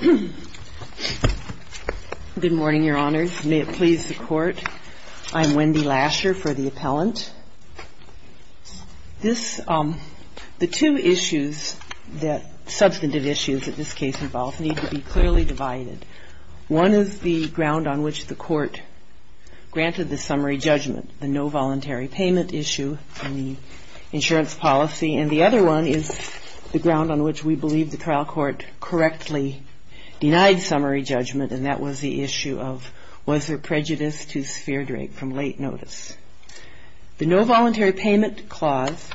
Good morning, Your Honors. May it please the Court, I'm Wendy Lasher for the Appellant. The two issues, substantive issues that this case involves, need to be clearly divided. One is the ground on which the Court granted the summary judgment, the no voluntary payment issue in the insurance policy, and the other one is the ground on which we believe the denied summary judgment, and that was the issue of was there prejudice to Sphere Drake from late notice. The no voluntary payment clause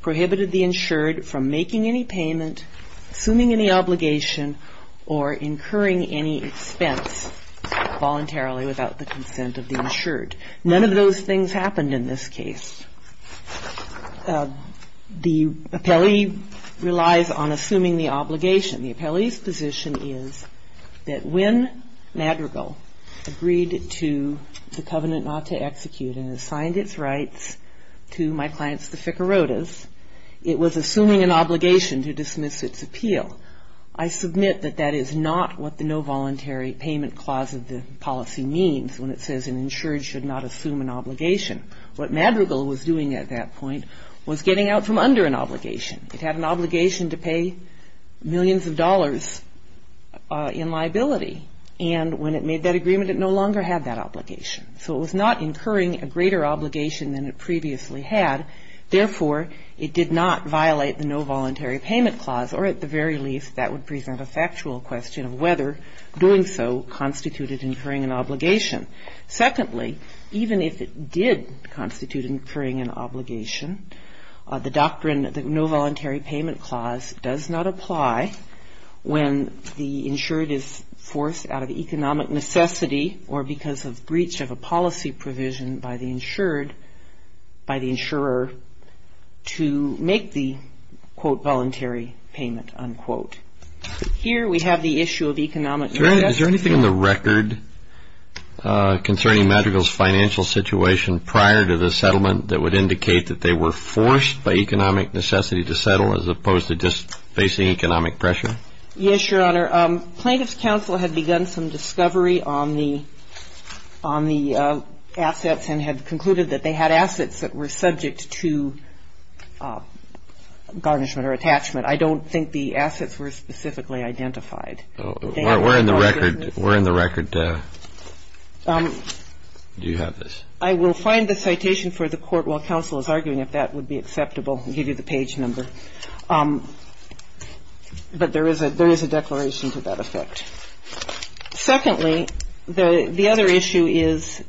prohibited the insured from making any payment, assuming any obligation, or incurring any expense voluntarily without the consent of the insured. None of those things happened in this case. The appellee relies on assuming the obligation. The appellee's position is that when Madrigal agreed to the covenant not to execute and assigned its rights to my clients, the Ficarrotas, it was assuming an obligation to dismiss its appeal. I submit that that is not what the no voluntary payment clause of the policy means when it says an insured should not assume an obligation. What Madrigal was doing at that point was getting out from under an obligation. It had an obligation to pay millions of dollars in liability, and when it made that agreement, it no longer had that obligation. So it was not incurring a greater obligation than it previously had. Therefore, it did not violate the no voluntary payment clause, or at the very least that would present a factual question of whether doing so constituted incurring an obligation. Secondly, even if it did constitute incurring an obligation, the doctrine of the no voluntary payment clause does not apply when the insured is forced out of economic necessity or because of breach of a policy provision by the insured, by the insurer, to make the, quote, voluntary payment, unquote. Here we have the issue of economic necessity. Is there anything in the record concerning Madrigal's financial situation prior to the indictment, as opposed to just facing economic pressure? Yes, Your Honor. Plaintiff's counsel had begun some discovery on the assets and had concluded that they had assets that were subject to garnishment or attachment. I don't think the assets were specifically identified. Where in the record do you have this? I will find the citation for the court while counsel is arguing if that would be acceptable and give you the page number. But there is a declaration to that effect. Secondly, the other issue is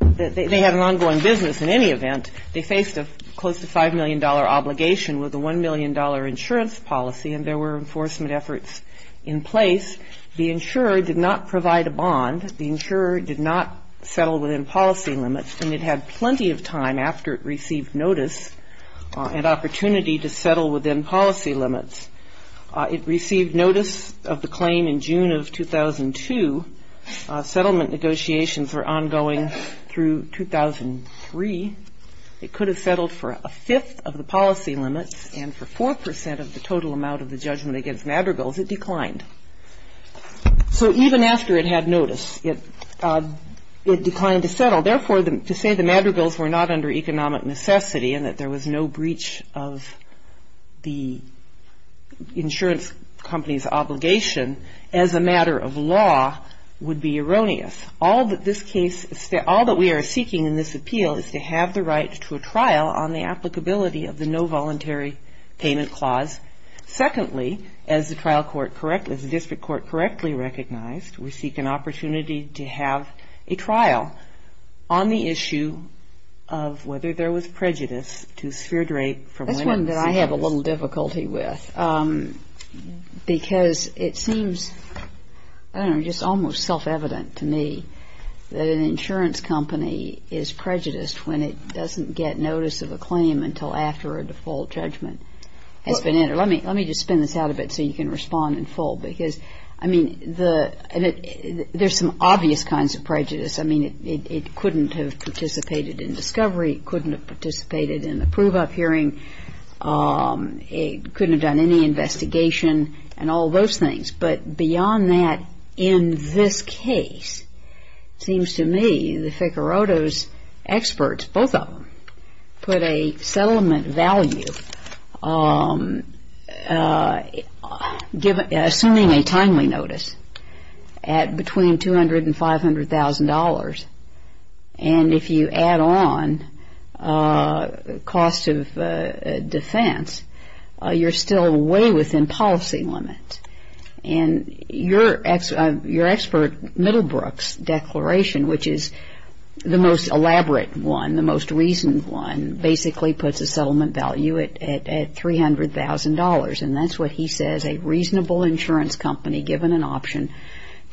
that they had an ongoing business in any event. They faced a close to $5 million obligation with a $1 million insurance policy, and there were enforcement efforts in place. The insurer did not provide a bond. The insurer did not settle within policy limits, and it had plenty of time after it received notice and opportunity to settle within policy limits. It received notice of the claim in June of 2002. Settlement negotiations were ongoing through 2003. It could have settled for a fifth of the policy limits, and for 4 percent of the total amount of the judgment against Madrigal's, it declined. So even after it had notice, it declined to settle. Therefore, to say the Madrigals were not under economic necessity and that there was no breach of the insurance company's obligation as a matter of law would be erroneous. All that this case, all that we are seeking in this appeal is to have the right to a trial on the applicability of the no voluntary payment clause. Secondly, as the trial court correctly, as the district court correctly recognized, we seek an opportunity to have a trial on the issue of whether there was prejudice to sphere drape from women. That's one that I have a little difficulty with, because it seems, I don't know, just almost self-evident to me that an insurance company is prejudiced when it doesn't get a settlement. Let me just spin this out a bit so you can respond in full, because I mean, there's some obvious kinds of prejudice. I mean, it couldn't have participated in discovery. It couldn't have participated in the prove-up hearing. It couldn't have done any investigation and all those things. But beyond that, in this case, it seems to me the Ficcarotto's experts, both of them, put a settlement value, assuming a timely notice, at between $200,000 and $500,000. And if you add on cost of defense, you're still way within policy limits. And your expert Middlebrook's declaration, which is the most elaborate one, the most reasoned one, basically puts a settlement value at $300,000. And that's what he says a reasonable insurance company, given an option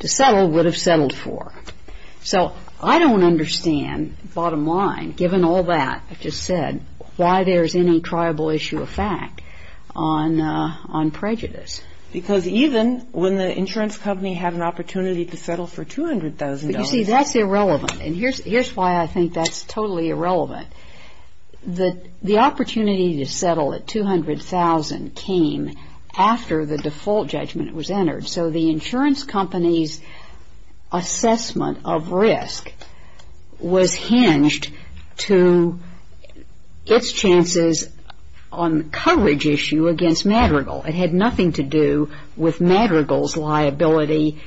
to settle, would have settled for. So I don't understand, bottom line, given all that I just said, why there's any triable issue of fact on prejudice. Because even when the insurance company had an opportunity to settle for $200,000 You see, that's irrelevant. And here's why I think that's totally irrelevant. The opportunity to settle at $200,000 came after the default judgment was entered. So the insurance company's assessment of risk was hinged to its chances on coverage issue against Madrigal. It had nothing to do with Madrigal's liability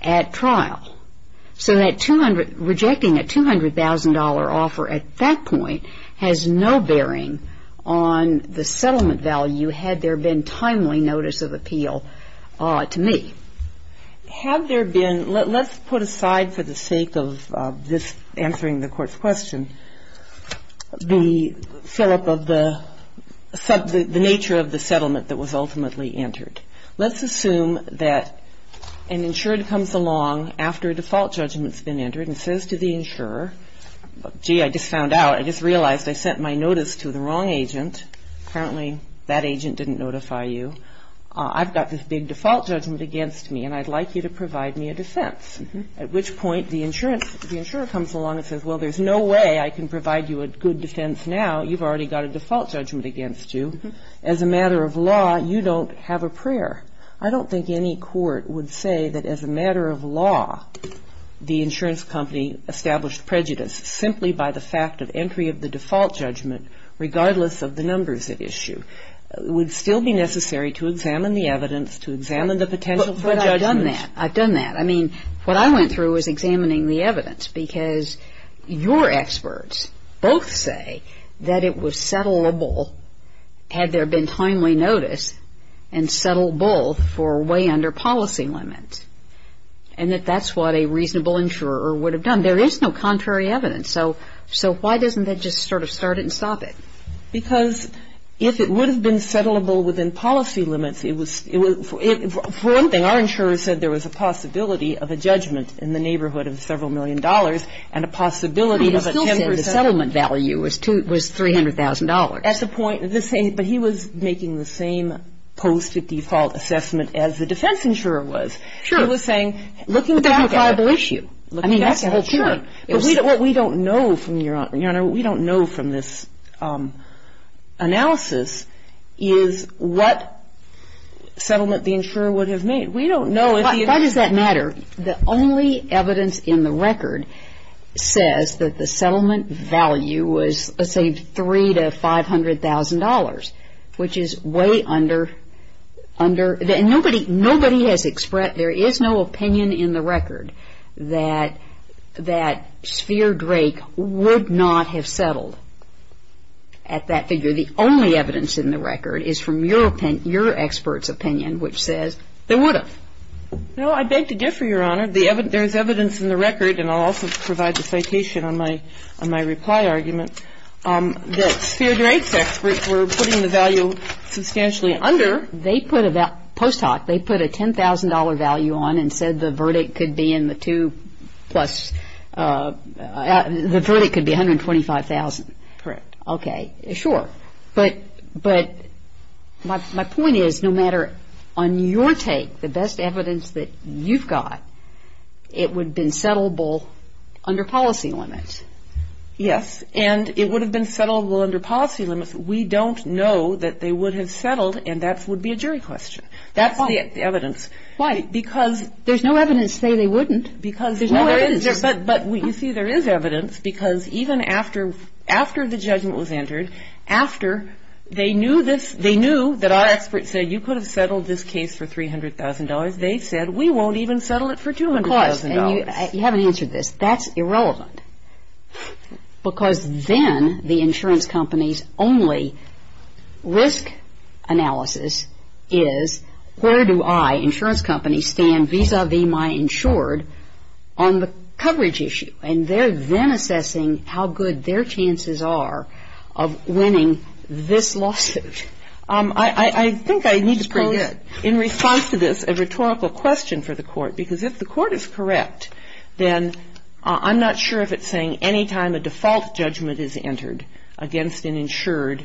at trial. So that $200,000, rejecting a $200,000 offer at that point has no bearing on the settlement value, had there been timely notice of appeal to me. Have there been, let's put aside for the sake of this answering the Court's question, the fill-up of the nature of the settlement that was ultimately entered. Let's assume that an insurer comes along after a default judgment's been entered and says to the insurer, gee, I just found out, I just realized I sent my notice to the wrong agent. Apparently that agent didn't notify you. I've got this big default judgment against me, and I'd like you to provide me a defense. At which point the insurance, the insurer comes along and says, well, there's no way I can provide you a good defense now. You've already got a default judgment against you. As a matter of law, you don't have a prayer. I don't think any court would say that as a matter of law, the insurance company established prejudice simply by the fact of entry of the default judgment, regardless of the numbers at issue. It would still be necessary to examine the evidence, to examine the potential for judgment. But I've done that. I've done that. I mean, what I went through was examining the evidence, because your experts both say that it was settlable, had there been timely notice, and settled both for way under policy limits, and that that's what a reasonable insurer would have done. There is no contrary evidence. So why doesn't that just sort of start it and stop it? Because if it would have been settlable within policy limits, it would, for one thing, our insurer said there was a possibility of a judgment in the neighborhood of several million dollars, and a possibility of a 10% of the settlement value was $300,000. At the point, the same, but he was making the same post-default assessment as the defense insurer was. Sure. He was saying, looking back at it. But that's a liable issue. I mean, that's a whole period. Sure. But what we don't know from, Your Honor, what we don't know from this analysis is that the settlement value was, let's say, $300,000 to $500,000, which is way under the, and nobody, nobody has expressed, there is no opinion in the record that, that Sphere Drake would not have settled at that figure. The only evidence in the record is from your opinion, your expert's opinion, which says they would have. No, I beg to differ, Your Honor. The evidence, there is evidence in the record, and I'll also provide the citation on my, on my reply argument, that Sphere Drake's experts were putting the value substantially under. They put a, post hoc, they put a $10,000 value on and said the verdict could be in the two plus, the verdict could be $125,000. Correct. Okay. Sure. But, but my, my point is, no matter, on your take, the best evidence that you've got, it would have been settlable under policy limits. Yes, and it would have been settlable under policy limits. We don't know that they would have settled, and that would be a jury question. That's the evidence. Why? Because There's no evidence to say they wouldn't. Because there's no evidence, but, but you see, there is evidence, because even after, after the judgment was entered, after they knew this, they knew that our expert said you could have settled this case for $300,000. They said we won't even settle it for $200,000. Because, and you, you haven't answered this, that's irrelevant, because then the insurance company's only risk analysis is where do I, insurance company, stand vis-a-vis my insured on the coverage issue? And they're then assessing how good their chances are of winning this lawsuit. I think I need to pose, in response to this, a rhetorical question for the Court, because if the Court is correct, then I'm not sure if it's saying any time a default judgment is entered against an insured,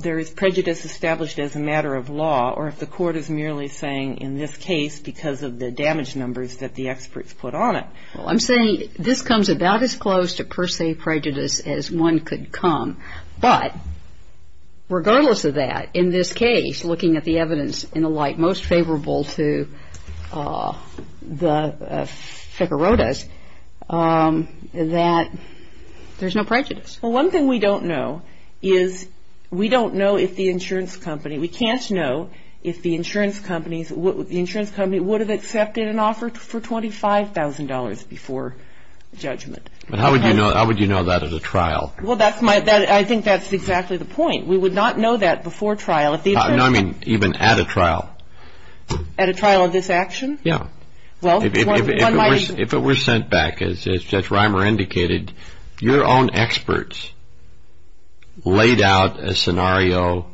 there is prejudice established as a matter of law, or if the Court is merely saying, in this case, because of the damage numbers that the experts put on it. Well, I'm saying this comes about as close to per se prejudice as one could come, but regardless of that, in this case, looking at the evidence and the like, most favorable to the Ficarotas, that there's no prejudice. One thing we don't know is, we don't know if the insurance company, we can't know if the insurance companies, the insurance company would have accepted an offer for $25,000 before judgment. How would you know that at a trial? Well, I think that's exactly the point. We would not know that before trial. No, I mean even at a trial. At a trial of this action? Yeah. If it were sent back, as Judge Reimer indicated, your own experts laid out a scenario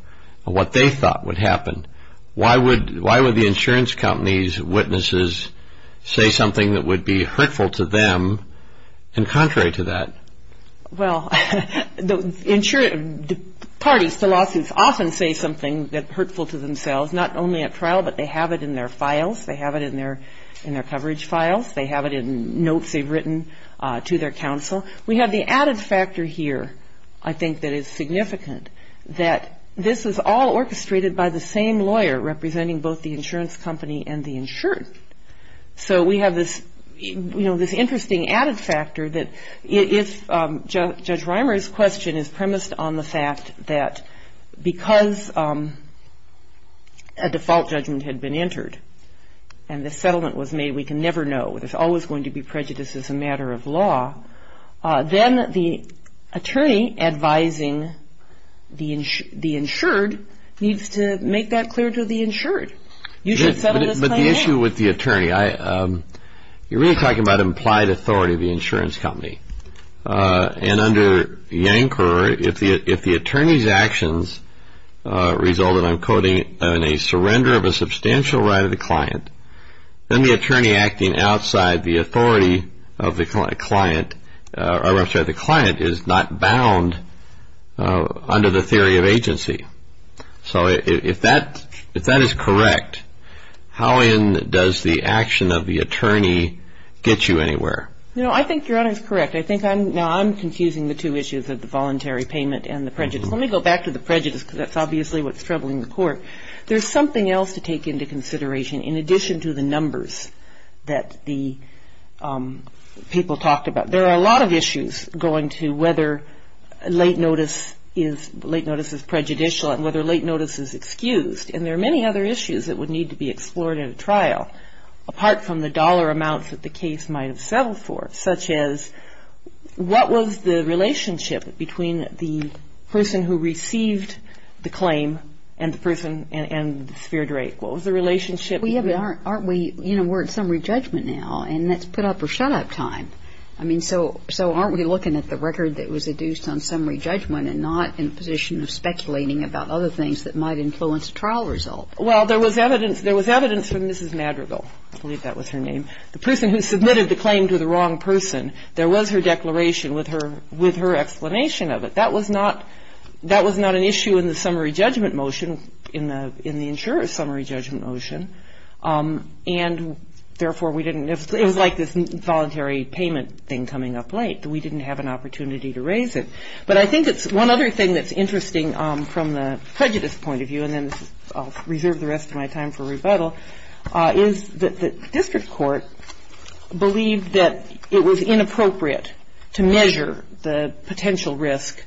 of what they thought would happen, why would the insurance company's witnesses say something that would be hurtful to them and contrary to that? Well, the parties to lawsuits often say something that's hurtful to themselves, not only at trial, but they have it in their files, they have it in their coverage files, they have it in notes they've written to their counsel. We have the added factor here, I think that is significant, that this is all orchestrated by the same lawyer representing both the insurance company and the insured. So we have this interesting added factor that if Judge Reimer's question is premised on the fact that because a default judgment had been entered and the settlement was made we can never know, there's always going to be prejudice as a matter of law, then the attorney advising the insured needs to make that clear to the insured. You should settle this claim here? But the issue with the attorney, you're really talking about implied authority of the insurance company and under Yankor, if the attorney's actions result in, I'm quoting, a surrender of a substantial right of the client, then the attorney acting outside the authority of the client is not bound under the theory of agency. So if that is correct, how in does the action of the attorney get you anywhere? No, I think Your Honor is correct. Now I'm confusing the two issues of the voluntary payment and the prejudice. Let me go back to the prejudice because that's obviously what's troubling the court. There's something else to take into consideration in addition to the numbers that the people talked about. There are a lot of issues going to whether late notice is prejudicial and whether late notice is excused. And there are many other issues that would need to be explored in a trial, apart from the dollar amounts that the case might have settled for, such as what was the relationship between the person who received the claim and the person and the sphered rate? What was the relationship? We're at summary judgment now and that's put up or shut up time. So aren't we looking at the record that was adduced on summary judgment and not in a position of speculating about other things that might influence a trial result? Well, there was evidence from Mrs. Madrigal. I believe that was her name. The person who submitted the claim to the wrong person, there was her declaration with her explanation of it. That was not an issue in the summary judgment motion, in the insurer's summary judgment motion. And therefore, we didn't know. It was like this voluntary payment thing coming up late. We didn't have an opportunity to raise it. But I think it's one other thing that's interesting from the prejudice point of view, and then I'll reserve the rest of my time for rebuttal, is that the district court believed that it was inappropriate to measure the potential risk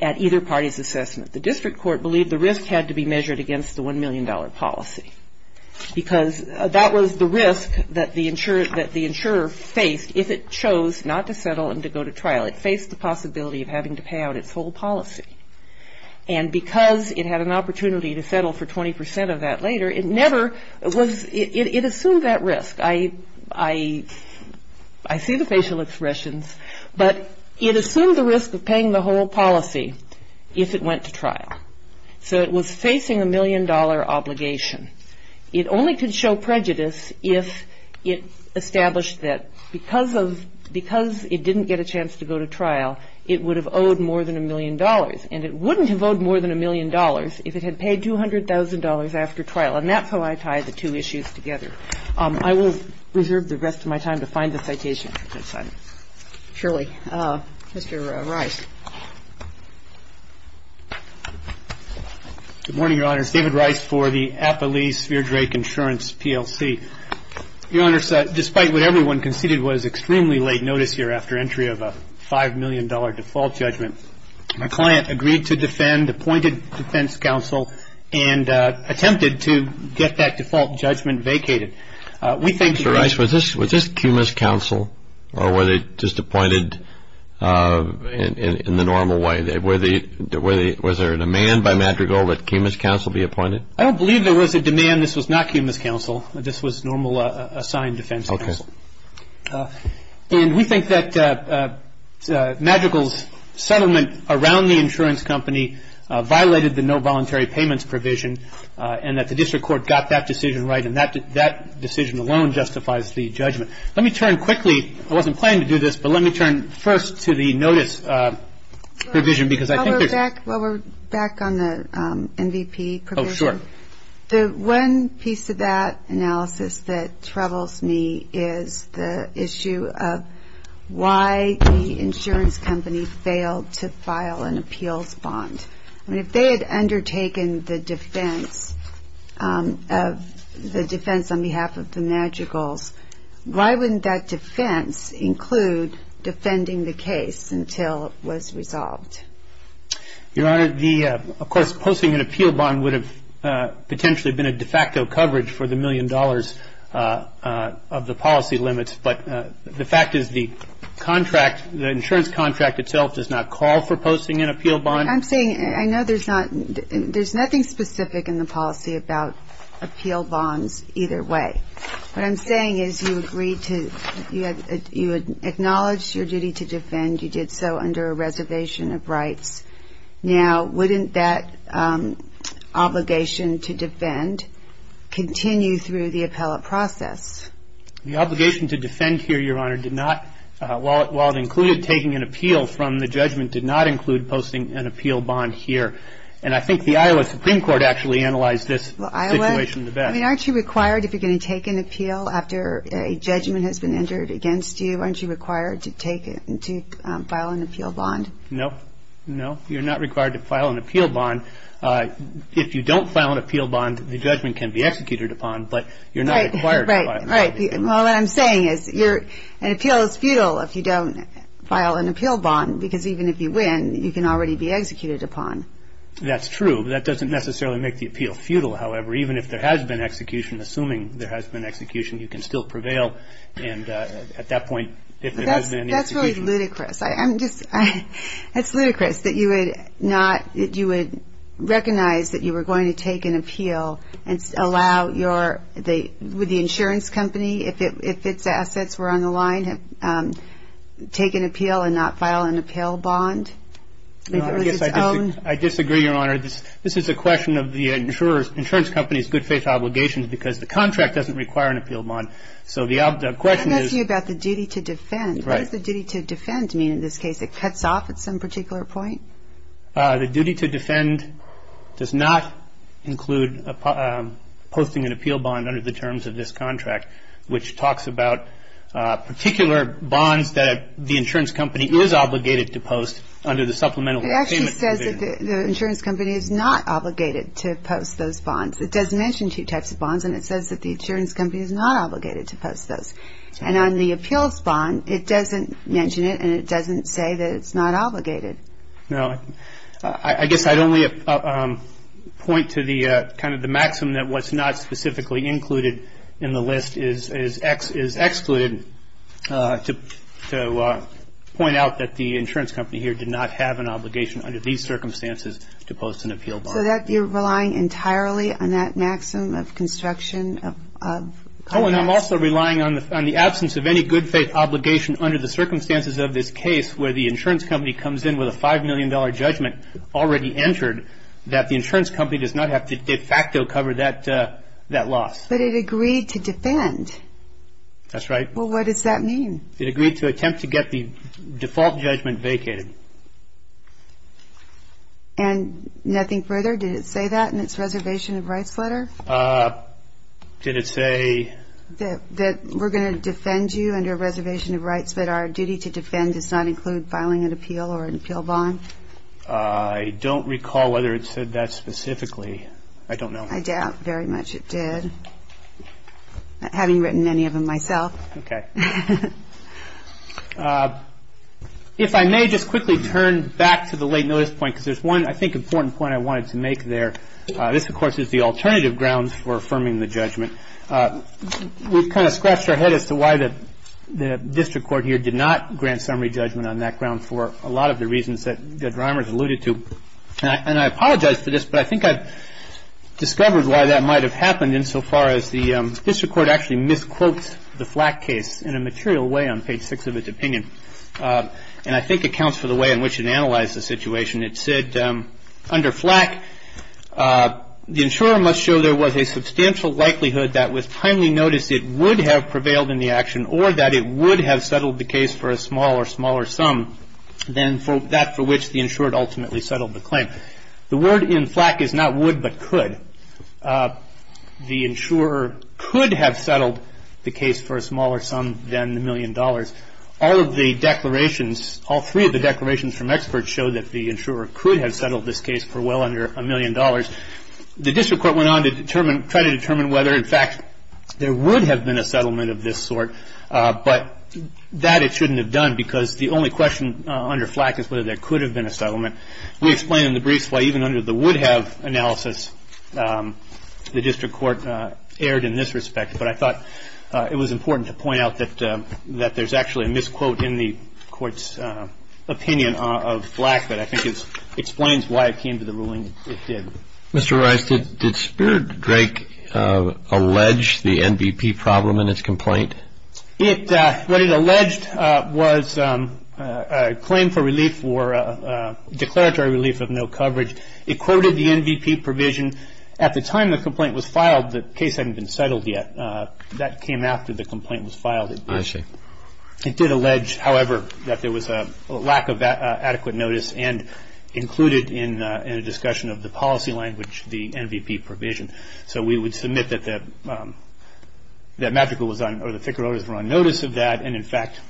at either party's assessment. The district court believed the risk had to be measured against the $1 million policy because that was the risk that the insurer faced if it chose not to settle and to go to trial. It faced the possibility of having to pay out its whole policy. And because it had an opportunity to settle for 20 percent of that later, it never was, it assumed that risk. I see the facial expressions, but it assumed the risk of paying the whole policy if it went to trial. So it was facing a $1 million obligation. It only could show prejudice if it established that because of — because it didn't get a chance to go to trial, it would have owed more than $1 million. And it wouldn't have owed more than $1 million if it had paid $200,000 after trial. And that's how I tie the two issues together. I will reserve the rest of my time to find the citation. Thank you. Mr. Rice. Good morning, Your Honors. David Rice for the Applease-Veerdrake Insurance PLC. Your Honors, despite what everyone conceded was extremely late notice here after entry of a $5 million default judgment, my client agreed to defend, appointed defense counsel, and attempted to get that default judgment vacated. We thank you for that. Mr. Rice, was this Kumis counsel or were they just appointed in the normal way? Was there a demand by Madrigal that Kumis counsel be appointed? I don't believe there was a demand. This was not Kumis counsel. This was normal assigned defense counsel. Okay. And we think that Madrigal's settlement around the insurance company violated the no voluntary payments provision and that the district court got that decision right and that decision alone justifies the judgment. Let me turn quickly, I wasn't planning to do this, but let me turn first to the notice provision because I think there's While we're back on the MVP provision, the one piece of that analysis that troubles me is the issue of why the insurance company failed to file an appeals bond. I mean, if they had undertaken the defense, the defense on behalf of the Madrigals, why wouldn't that defense include defending the case until it was resolved? Your Honor, the, of course, posting an appeal bond would have potentially been a de facto coverage for the $1 million of the policy limits, but the fact is that the insurance contract itself does not call for posting an appeal bond. I'm saying, I know there's nothing specific in the policy about appeal bonds either way. What I'm saying is you agreed to, you had acknowledged your duty to defend, you did so under a reservation of rights. Now, wouldn't that obligation to defend continue through the appellate process? The obligation to defend here, Your Honor, did not, while it included taking an appeal from the judgment, did not include posting an appeal bond here. And I think the Iowa Supreme Court actually analyzed this situation the best. Well, Iowa, I mean, aren't you required if you're going to take an appeal after a judgment has been entered against you, aren't you required to take, to file an appeal bond? No, no, you're not required to file an appeal bond. If you don't file an appeal bond, the judgment can be executed upon, but you're not required to file an appeal bond. Right. Well, what I'm saying is an appeal is futile if you don't file an appeal bond, because even if you win, you can already be executed upon. That's true. That doesn't necessarily make the appeal futile, however. Even if there has been execution, assuming there has been execution, you can still prevail. And at that point, if there has been execution. That's really ludicrous. I'm just, that's ludicrous that you would not, that you would recognize that you were going to take an appeal and allow your, would the insurance company, if its assets were on the line, take an appeal and not file an appeal bond? I disagree, Your Honor. This is a question of the insurer's, insurance company's good faith obligations, because the contract doesn't require an appeal bond. So the question is. I'm asking you about the duty to defend. Right. What does the duty to defend mean in this case? It cuts off at some particular point? The duty to defend does not include posting an appeal bond under the terms of this contract, which talks about particular bonds that the insurance company is obligated to post under the supplemental payment. It actually says that the insurance company is not obligated to post those bonds. It does mention two types of bonds, and it says that the insurance company is not obligated to post those. And on the appeals bond, it doesn't mention it, and it doesn't say that it's not obligated. No. I guess I'd only point to the kind of the maximum that what's not specifically included in the list is excluded to point out that the insurance company here did not have an obligation under these circumstances to post an appeal bond. So that you're relying entirely on that maximum of construction of contracts? Oh, and I'm also relying on the absence of any good faith obligation under the $5 million judgment already entered that the insurance company does not have to de facto cover that loss. But it agreed to defend. That's right. Well, what does that mean? It agreed to attempt to get the default judgment vacated. And nothing further? Did it say that in its reservation of rights letter? Did it say? That we're going to defend you under a reservation of rights, but our duty to I don't recall whether it said that specifically. I don't know. I doubt very much it did, having written many of them myself. Okay. If I may just quickly turn back to the late notice point, because there's one, I think, important point I wanted to make there. This, of course, is the alternative grounds for affirming the judgment. We've kind of scratched our head as to why the district court here did not grant a summary judgment on that ground for a lot of the reasons that Drimer's alluded to. And I apologize for this, but I think I've discovered why that might have happened insofar as the district court actually misquotes the Flack case in a material way on page six of its opinion. And I think it counts for the way in which it analyzed the situation. It said, under Flack, the insurer must show there was a substantial likelihood that with timely notice it would have prevailed in the action or that it would have settled the case for a small or smaller sum than that for which the insured ultimately settled the claim. The word in Flack is not would but could. The insurer could have settled the case for a smaller sum than the million dollars. All of the declarations, all three of the declarations from experts show that the insurer could have settled this case for well under a million dollars. The district court went on to try to determine whether, in fact, there would have been a settlement of this sort, but that it shouldn't have done because the only question under Flack is whether there could have been a settlement. We explain in the briefs why even under the would-have analysis the district court erred in this respect, but I thought it was important to point out that there's actually a misquote in the court's opinion of Flack but I think it explains why it came to the ruling it did. Mr. Rice, did Spirit Drake allege the NVP problem in its complaint? What it alleged was a claim for relief or declaratory relief of no coverage. It quoted the NVP provision. At the time the complaint was filed, the case hadn't been settled yet. That came after the complaint was filed. I see. It did allege, however, that there was a lack of adequate notice and included in a discussion of the policy language the NVP provision. So we would submit that Magical was on, or the Ficarotas were on notice of that and, in fact,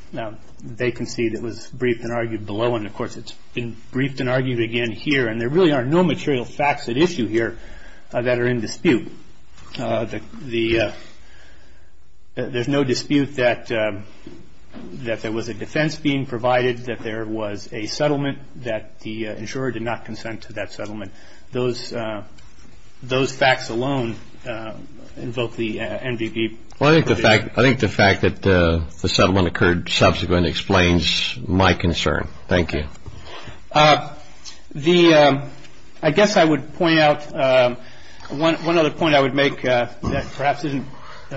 they concede it was briefed and argued below and, of course, it's been briefed and argued again here and there really are no material facts at issue here that are in dispute. There's no dispute that there was a defense being provided, that there was a settlement, that the insurer did not consent to that settlement. Those facts alone invoke the NVP provision. I think the fact that the settlement occurred subsequent explains my concern. Thank you. I guess I would point out one other point I would make that perhaps isn't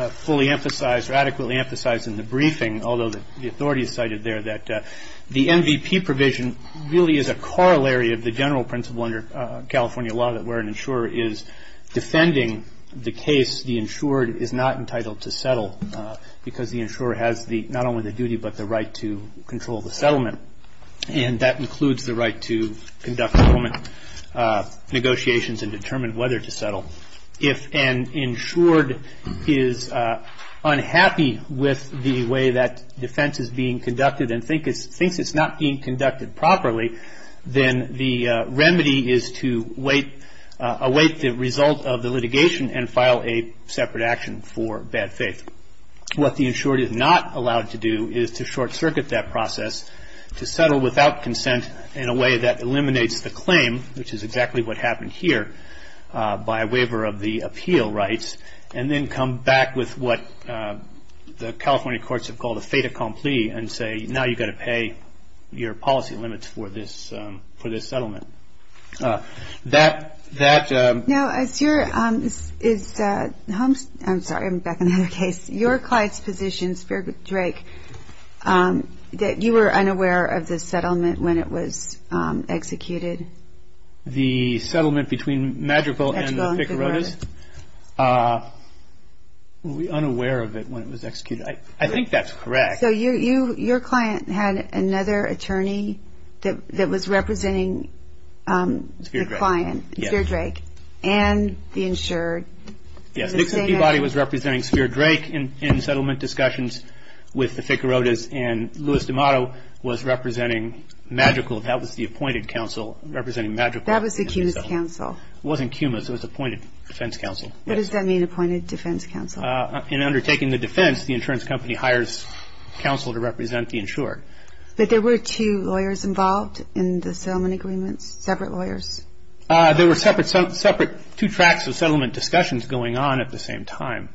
fully emphasized or adequately emphasized in the briefing, although the authority is cited there, that the NVP provision really is a corollary of the general principle under California law that where an insurer is defending the case, the insured is not entitled to settle because the insurer has not only the duty but the right to control the settlement. And that includes the right to conduct settlement negotiations and determine whether to settle. If an insured is unhappy with the way that defense is being conducted and thinks it's not being conducted properly, then the remedy is to await the result of the litigation and file a separate action for bad faith. What the insured is not allowed to do is to short-circuit that process, to settle without consent in a way that eliminates the claim, which is exactly what happened here by waiver of the appeal rights, and then come back with what the California courts have called a fait accompli and say now you've got to pay your policy limits for this settlement. That... Now, as your... I'm sorry, I'm back on the other case. Your client's position, Drake, that you were unaware of the settlement when it was executed? The settlement between Madrigal and the Ficarotas? Madrigal and the Ficarotas. We were unaware of it when it was executed. I think that's correct. So your client had another attorney that was representing the client, Speer Drake, and the insured? Yes, Dixie Peabody was representing Speer Drake in settlement discussions with the Ficarotas, and Louis D'Amato was representing Madrigal, that was the appointed counsel, representing Madrigal. That was the CUMAS counsel. It wasn't CUMAS, it was the appointed defense counsel. What does that mean, appointed defense counsel? In undertaking the defense, the insurance company hires counsel to represent the insured. But there were two lawyers involved in the settlement agreements, separate lawyers? There were separate two tracks of settlement discussions going on at the same time.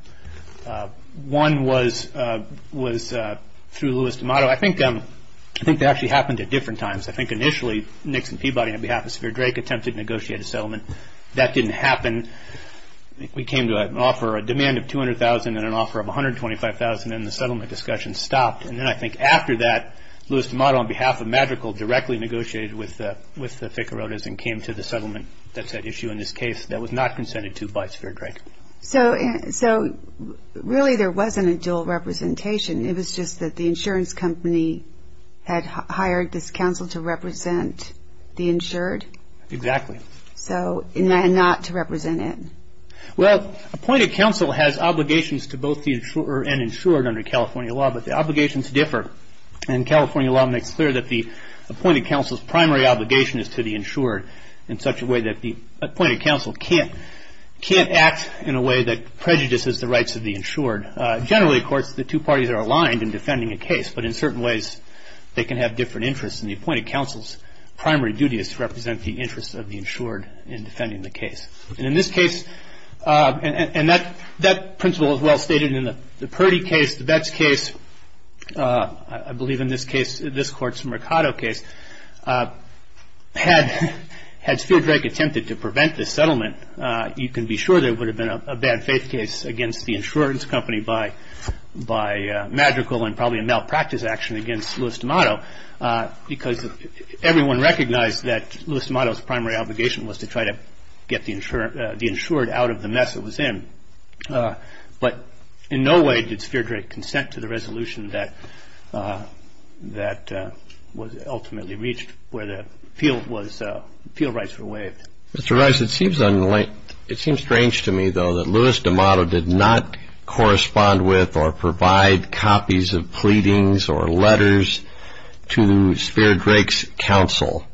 One was through Louis D'Amato. I think that actually happened at different times. I think initially Nixon Peabody, on behalf of Speer Drake, attempted to negotiate a settlement. That didn't happen. We came to an offer, a demand of $200,000 and an offer of $125,000, and the settlement discussion stopped. And then I think after that, Louis D'Amato, on behalf of Madrigal, directly negotiated with the Ficarotas and came to the settlement that's at issue in this case that was not consented to by Speer Drake. So really there wasn't a dual representation. It was just that the insurance company had hired this counsel to represent the insured? Exactly. So not to represent it? Well, appointed counsel has obligations to both the insurer and insured under California law, but the obligations differ. And California law makes clear that the appointed counsel's primary obligation is to the insured in such a way that the appointed counsel can't act in a way that prejudices the rights of the insured. Generally, of course, the two parties are aligned in defending a case, but in certain ways they can have different interests. And the appointed counsel's primary duty is to represent the interests of the insured in defending the case. And in this case, and that principle is well stated in the Purdy case, the Betts case, I believe in this case, this Court's Mercado case, had Speer Drake attempted to prevent this settlement, you can be sure there would have been a bad faith case against the insurance company by Madrigal and probably a malpractice action against Louis D'Amato because everyone recognized that Louis D'Amato's primary obligation was to try to get the insured out of the mess it was in. But in no way did Speer Drake consent to the resolution that was ultimately reached where the field rights were waived. Mr. Rice, it seems strange to me, though, that Louis D'Amato did not correspond with or provide copies of pleadings or letters to Speer Drake's counsel.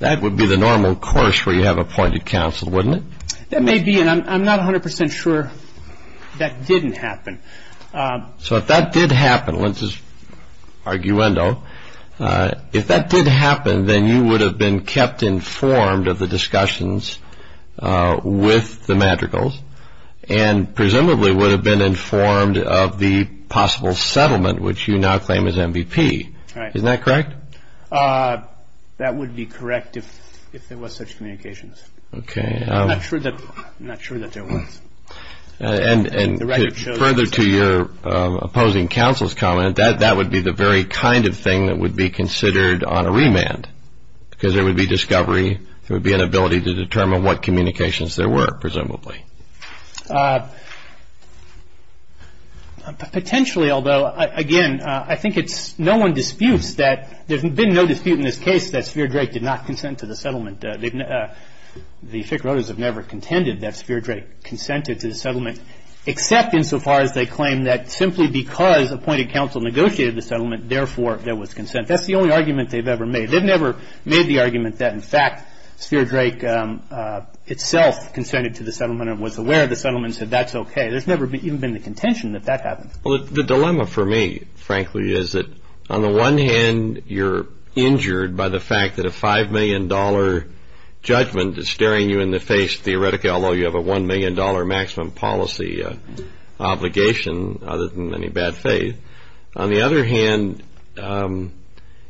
That would be the normal course where you have appointed counsel, wouldn't it? That may be, and I'm not 100% sure that didn't happen. So if that did happen, Linz's arguendo, if that did happen, then you would have been kept informed of the discussions with the Madrigals and presumably would have been informed of the possible settlement which you now claim as MVP. Isn't that correct? That would be correct if there was such communications. I'm not sure that there was. Further to your opposing counsel's comment, that would be the very kind of thing that would be considered on a remand because there would be discovery, there would be an ability to determine what communications there were, presumably. Potentially, although, again, I think it's no one disputes that there's been no dispute in this case that Speer Drake did not consent to the settlement. The Fick Roaders have never contended that Speer Drake consented to the settlement except insofar as they claim that simply because appointed counsel negotiated the settlement, therefore, there was consent. That's the only argument they've ever made. They've never made the argument that, in fact, Speer Drake itself consented to the settlement and was aware of the settlement and said that's okay. There's never even been the contention that that happened. Well, the dilemma for me, frankly, is that on the one hand, you're injured by the fact that a $5 million judgment is staring you in the face theoretically, although you have a $1 million maximum policy obligation other than any bad faith. On the other hand,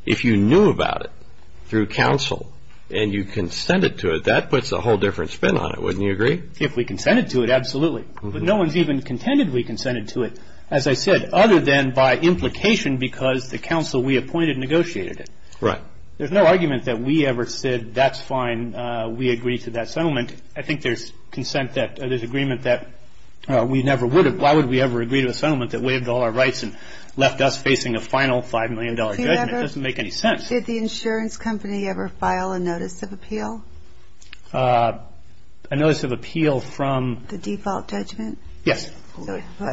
if you knew about it through counsel and you consented to it, that puts a whole different spin on it, wouldn't you agree? If we consented to it, absolutely. But no one's even contended we consented to it, as I said, other than by implication because the counsel we appointed negotiated it. Right. There's no argument that we ever said that's fine, we agree to that settlement. I think there's consent that there's agreement that we never would have. Why would we ever agree to a settlement that waived all our rights and left us facing a final $5 million judgment? It doesn't make any sense. Did the insurance company ever file a notice of appeal? A notice of appeal from? The default judgment? Yes.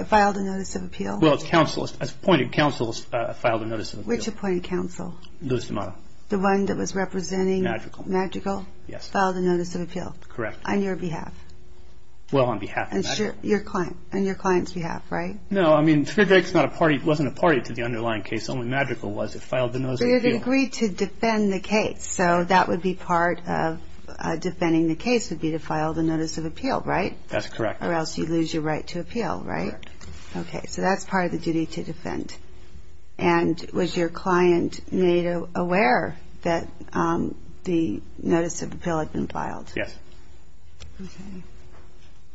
Filed a notice of appeal? Well, it's counsel. It's appointed counsel filed a notice of appeal. Which appointed counsel? Lou Stamato. The one that was representing? Magical. Magical? Yes. Filed a notice of appeal? Correct. On your behalf? Well, on behalf of Magical. On your client's behalf, right? No, I mean, FedEx wasn't a party to the underlying case. Only Magical was. It filed the notice of appeal. But it agreed to defend the case, so that would be part of defending the case would be to file the notice of appeal, right? That's correct. Correct. Okay, so that's part of the duty to defend. And was your client made aware that the notice of appeal had been filed? Yes. Okay.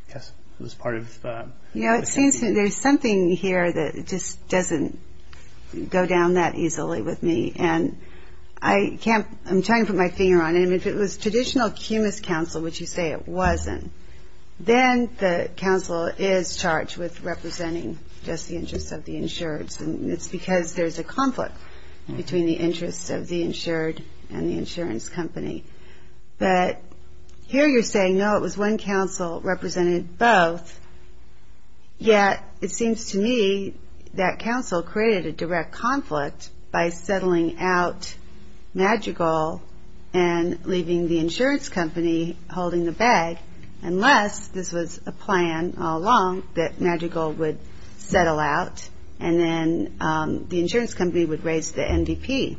Yes, it was part of the... You know, it seems there's something here that just doesn't go down that easily with me, and I can't... I'm trying to put my finger on it. I mean, if it was traditional cumulus counsel, which you say it wasn't, then the counsel is charged with representing just the interests of the insureds, and it's because there's a conflict between the interests of the insured and the insurance company. But here you're saying, no, it was one counsel represented both, yet it seems to me that counsel created a direct conflict by settling out Magical and leaving the insurance company holding the bag, unless this was a plan all along that Magical would settle out and then the insurance company would raise the NDP.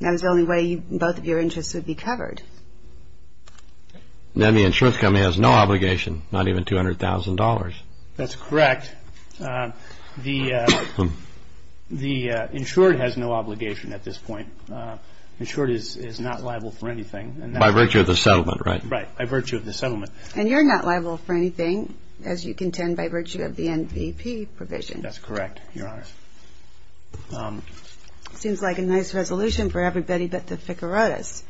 That was the only way both of your interests would be covered. Then the insurance company has no obligation, not even $200,000. That's correct. The insured has no obligation at this point. The insured is not liable for anything. By virtue of the settlement, right? Right, by virtue of the settlement. And you're not liable for anything, as you contend, by virtue of the NDP provision. That's correct, Your Honor. Seems like a nice resolution for everybody but the Ficarotas.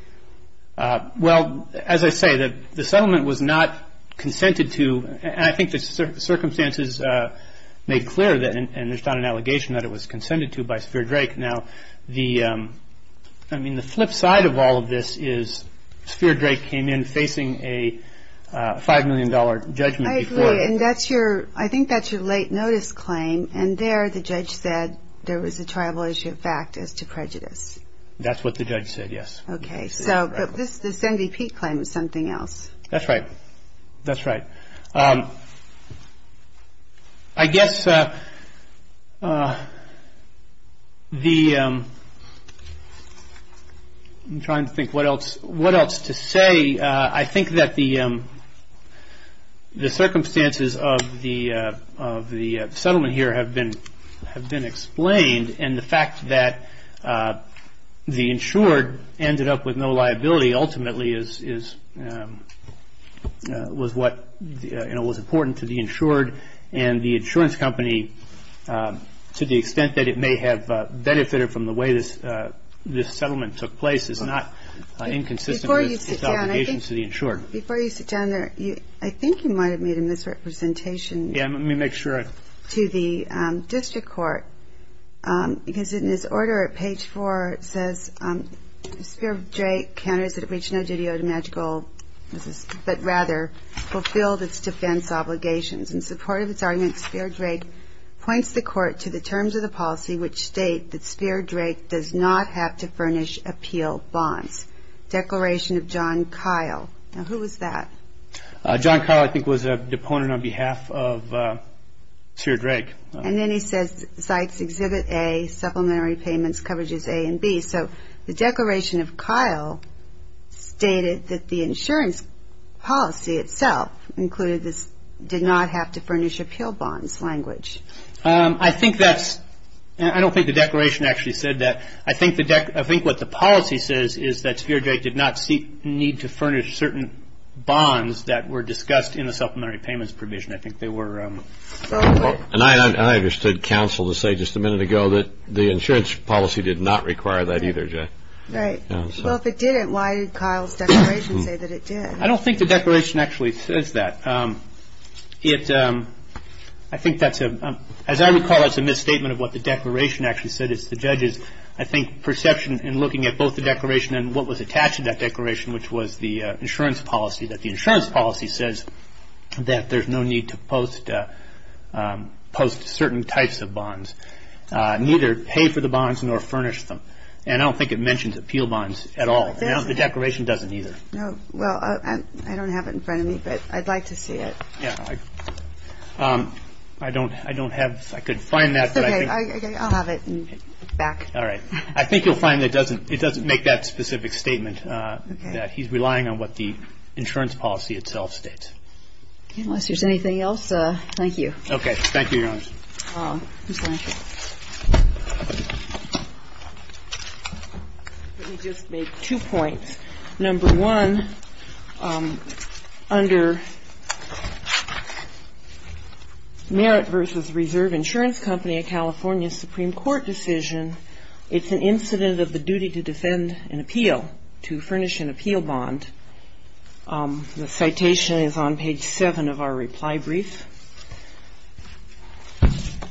Well, as I say, the settlement was not consented to. I think the circumstances made clear, and there's not an allegation that it was consented to by Sphere Drake. Now, the flip side of all of this is Sphere Drake came in facing a $5 million judgment. I agree, and I think that's your late notice claim, and there the judge said there was a tribal issue of fact as to prejudice. That's what the judge said, yes. Okay, but this NDP claim is something else. That's right. That's right. I guess the ‑‑ I'm trying to think what else to say. I think that the circumstances of the settlement here have been explained, and the fact that the insured ended up with no liability ultimately was what was important to the insured, and the insurance company, to the extent that it may have benefited from the way this settlement took place, is not inconsistent with its obligation to the insured. Before you sit down there, I think you might have made a misrepresentation to the district court because in his order at page 4 it says, Sphere Drake counters that it reached no duty owed to magical, but rather fulfilled its defense obligations. In support of its argument, Sphere Drake points the court to the terms of the policy which state that Sphere Drake does not have to furnish appeal bonds. Declaration of John Kyle. Now, who was that? John Kyle, I think, was a deponent on behalf of Sphere Drake. And then he says, Sites exhibit A, supplementary payments, coverages A and B. So the Declaration of Kyle stated that the insurance policy itself included this, did not have to furnish appeal bonds language. I think that's ‑‑ I don't think the Declaration actually said that. I think what the policy says is that Sphere Drake did not need to furnish certain bonds that were discussed in the supplementary payments provision. I think they were ‑‑ And I understood counsel to say just a minute ago that the insurance policy did not require that either, Jay. Right. Well, if it didn't, why did Kyle's declaration say that it did? I don't think the declaration actually says that. It ‑‑ I think that's a ‑‑ as I recall, it's a misstatement of what the declaration actually said. It's the judge's, I think, perception in looking at both the declaration and what was attached to that declaration, which was the insurance policy, that the insurance policy says that there's no need to post certain types of bonds, neither pay for the bonds nor furnish them. And I don't think it mentions appeal bonds at all. The declaration doesn't either. No. Well, I don't have it in front of me, but I'd like to see it. Yeah. I don't have ‑‑ I could find that, but I think ‑‑ Okay. I'll have it back. All right. I think you'll find it doesn't make that specific statement. Okay. That he's relying on what the insurance policy itself states. Okay. Unless there's anything else, thank you. Okay. Thank you, Your Honor. Ms. Blanchard. Let me just make two points. Number one, under Merit v. Reserve Insurance Company, a California Supreme Court decision, it's an incident of the duty to defend an appeal, to furnish an appeal bond. The citation is on page 7 of our reply brief.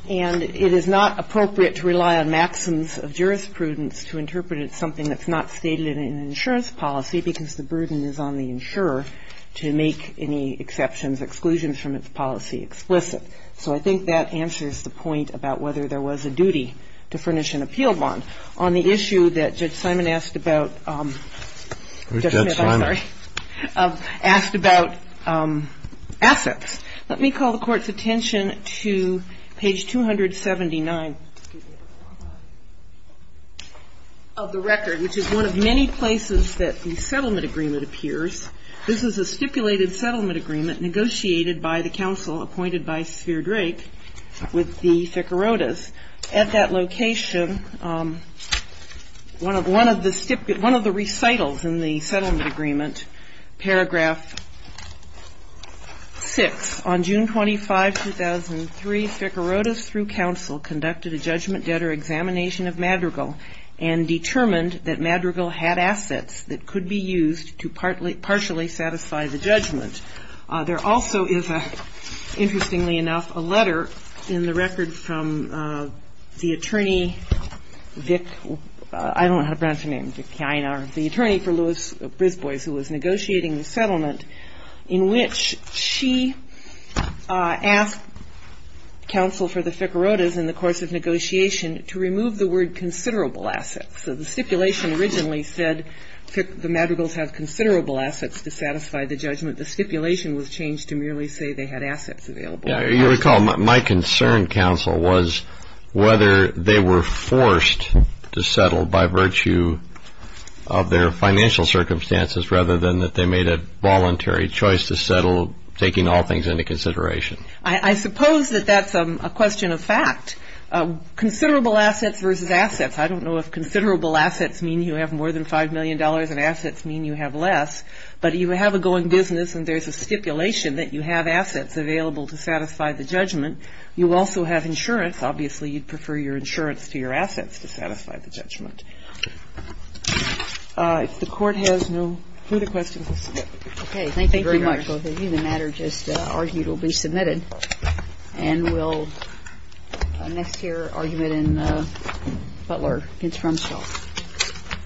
And it is not appropriate to rely on maxims of jurisprudence to interpret it as something that's not stated in an insurance policy, because the burden is on the insurer to make any exceptions, exclusions from its policy explicit. So I think that answers the point about whether there was a duty to furnish an appeal bond. On the issue that Judge Simon asked about ‑‑ Who's Judge Simon? I'm sorry. Asked about assets. Let me call the Court's attention to page 279 of the record, which is one of many places that the settlement agreement appears. This is a stipulated settlement agreement negotiated by the counsel appointed by Sphere Drake with the Ficarotas. At that location, one of the recitals in the settlement agreement, paragraph 6, on June 25, 2003, Ficarotas, through counsel, conducted a judgment debtor examination of Madrigal and determined that Madrigal had assets that could be used to partially satisfy the judgment. There also is, interestingly enough, a letter in the record from the attorney, Vic, I don't know how to pronounce her name, the attorney for Louis Brisbois who was negotiating the settlement, in which she asked counsel for the Ficarotas in the course of negotiation to remove the word considerable assets. So the stipulation originally said the Madrigals have considerable assets to satisfy the judgment. The stipulation was changed to merely say they had assets available. You recall my concern, counsel, was whether they were forced to settle by virtue of their financial circumstances rather than that they made a voluntary choice to settle, taking all things into consideration. I suppose that that's a question of fact. Considerable assets versus assets, I don't know if considerable assets mean you have more than $5 million and assets mean you have less, but you have a going business and there's a stipulation that you have assets available to satisfy the judgment. You also have insurance. Obviously, you'd prefer your insurance to your assets to satisfy the judgment. If the Court has no further questions, we'll submit. Okay. Thank you very much. Thank you, Your Honor. Both of you. The matter just argued will be submitted. And we'll next hear argument in Butler against Rumsfeld. Thank you.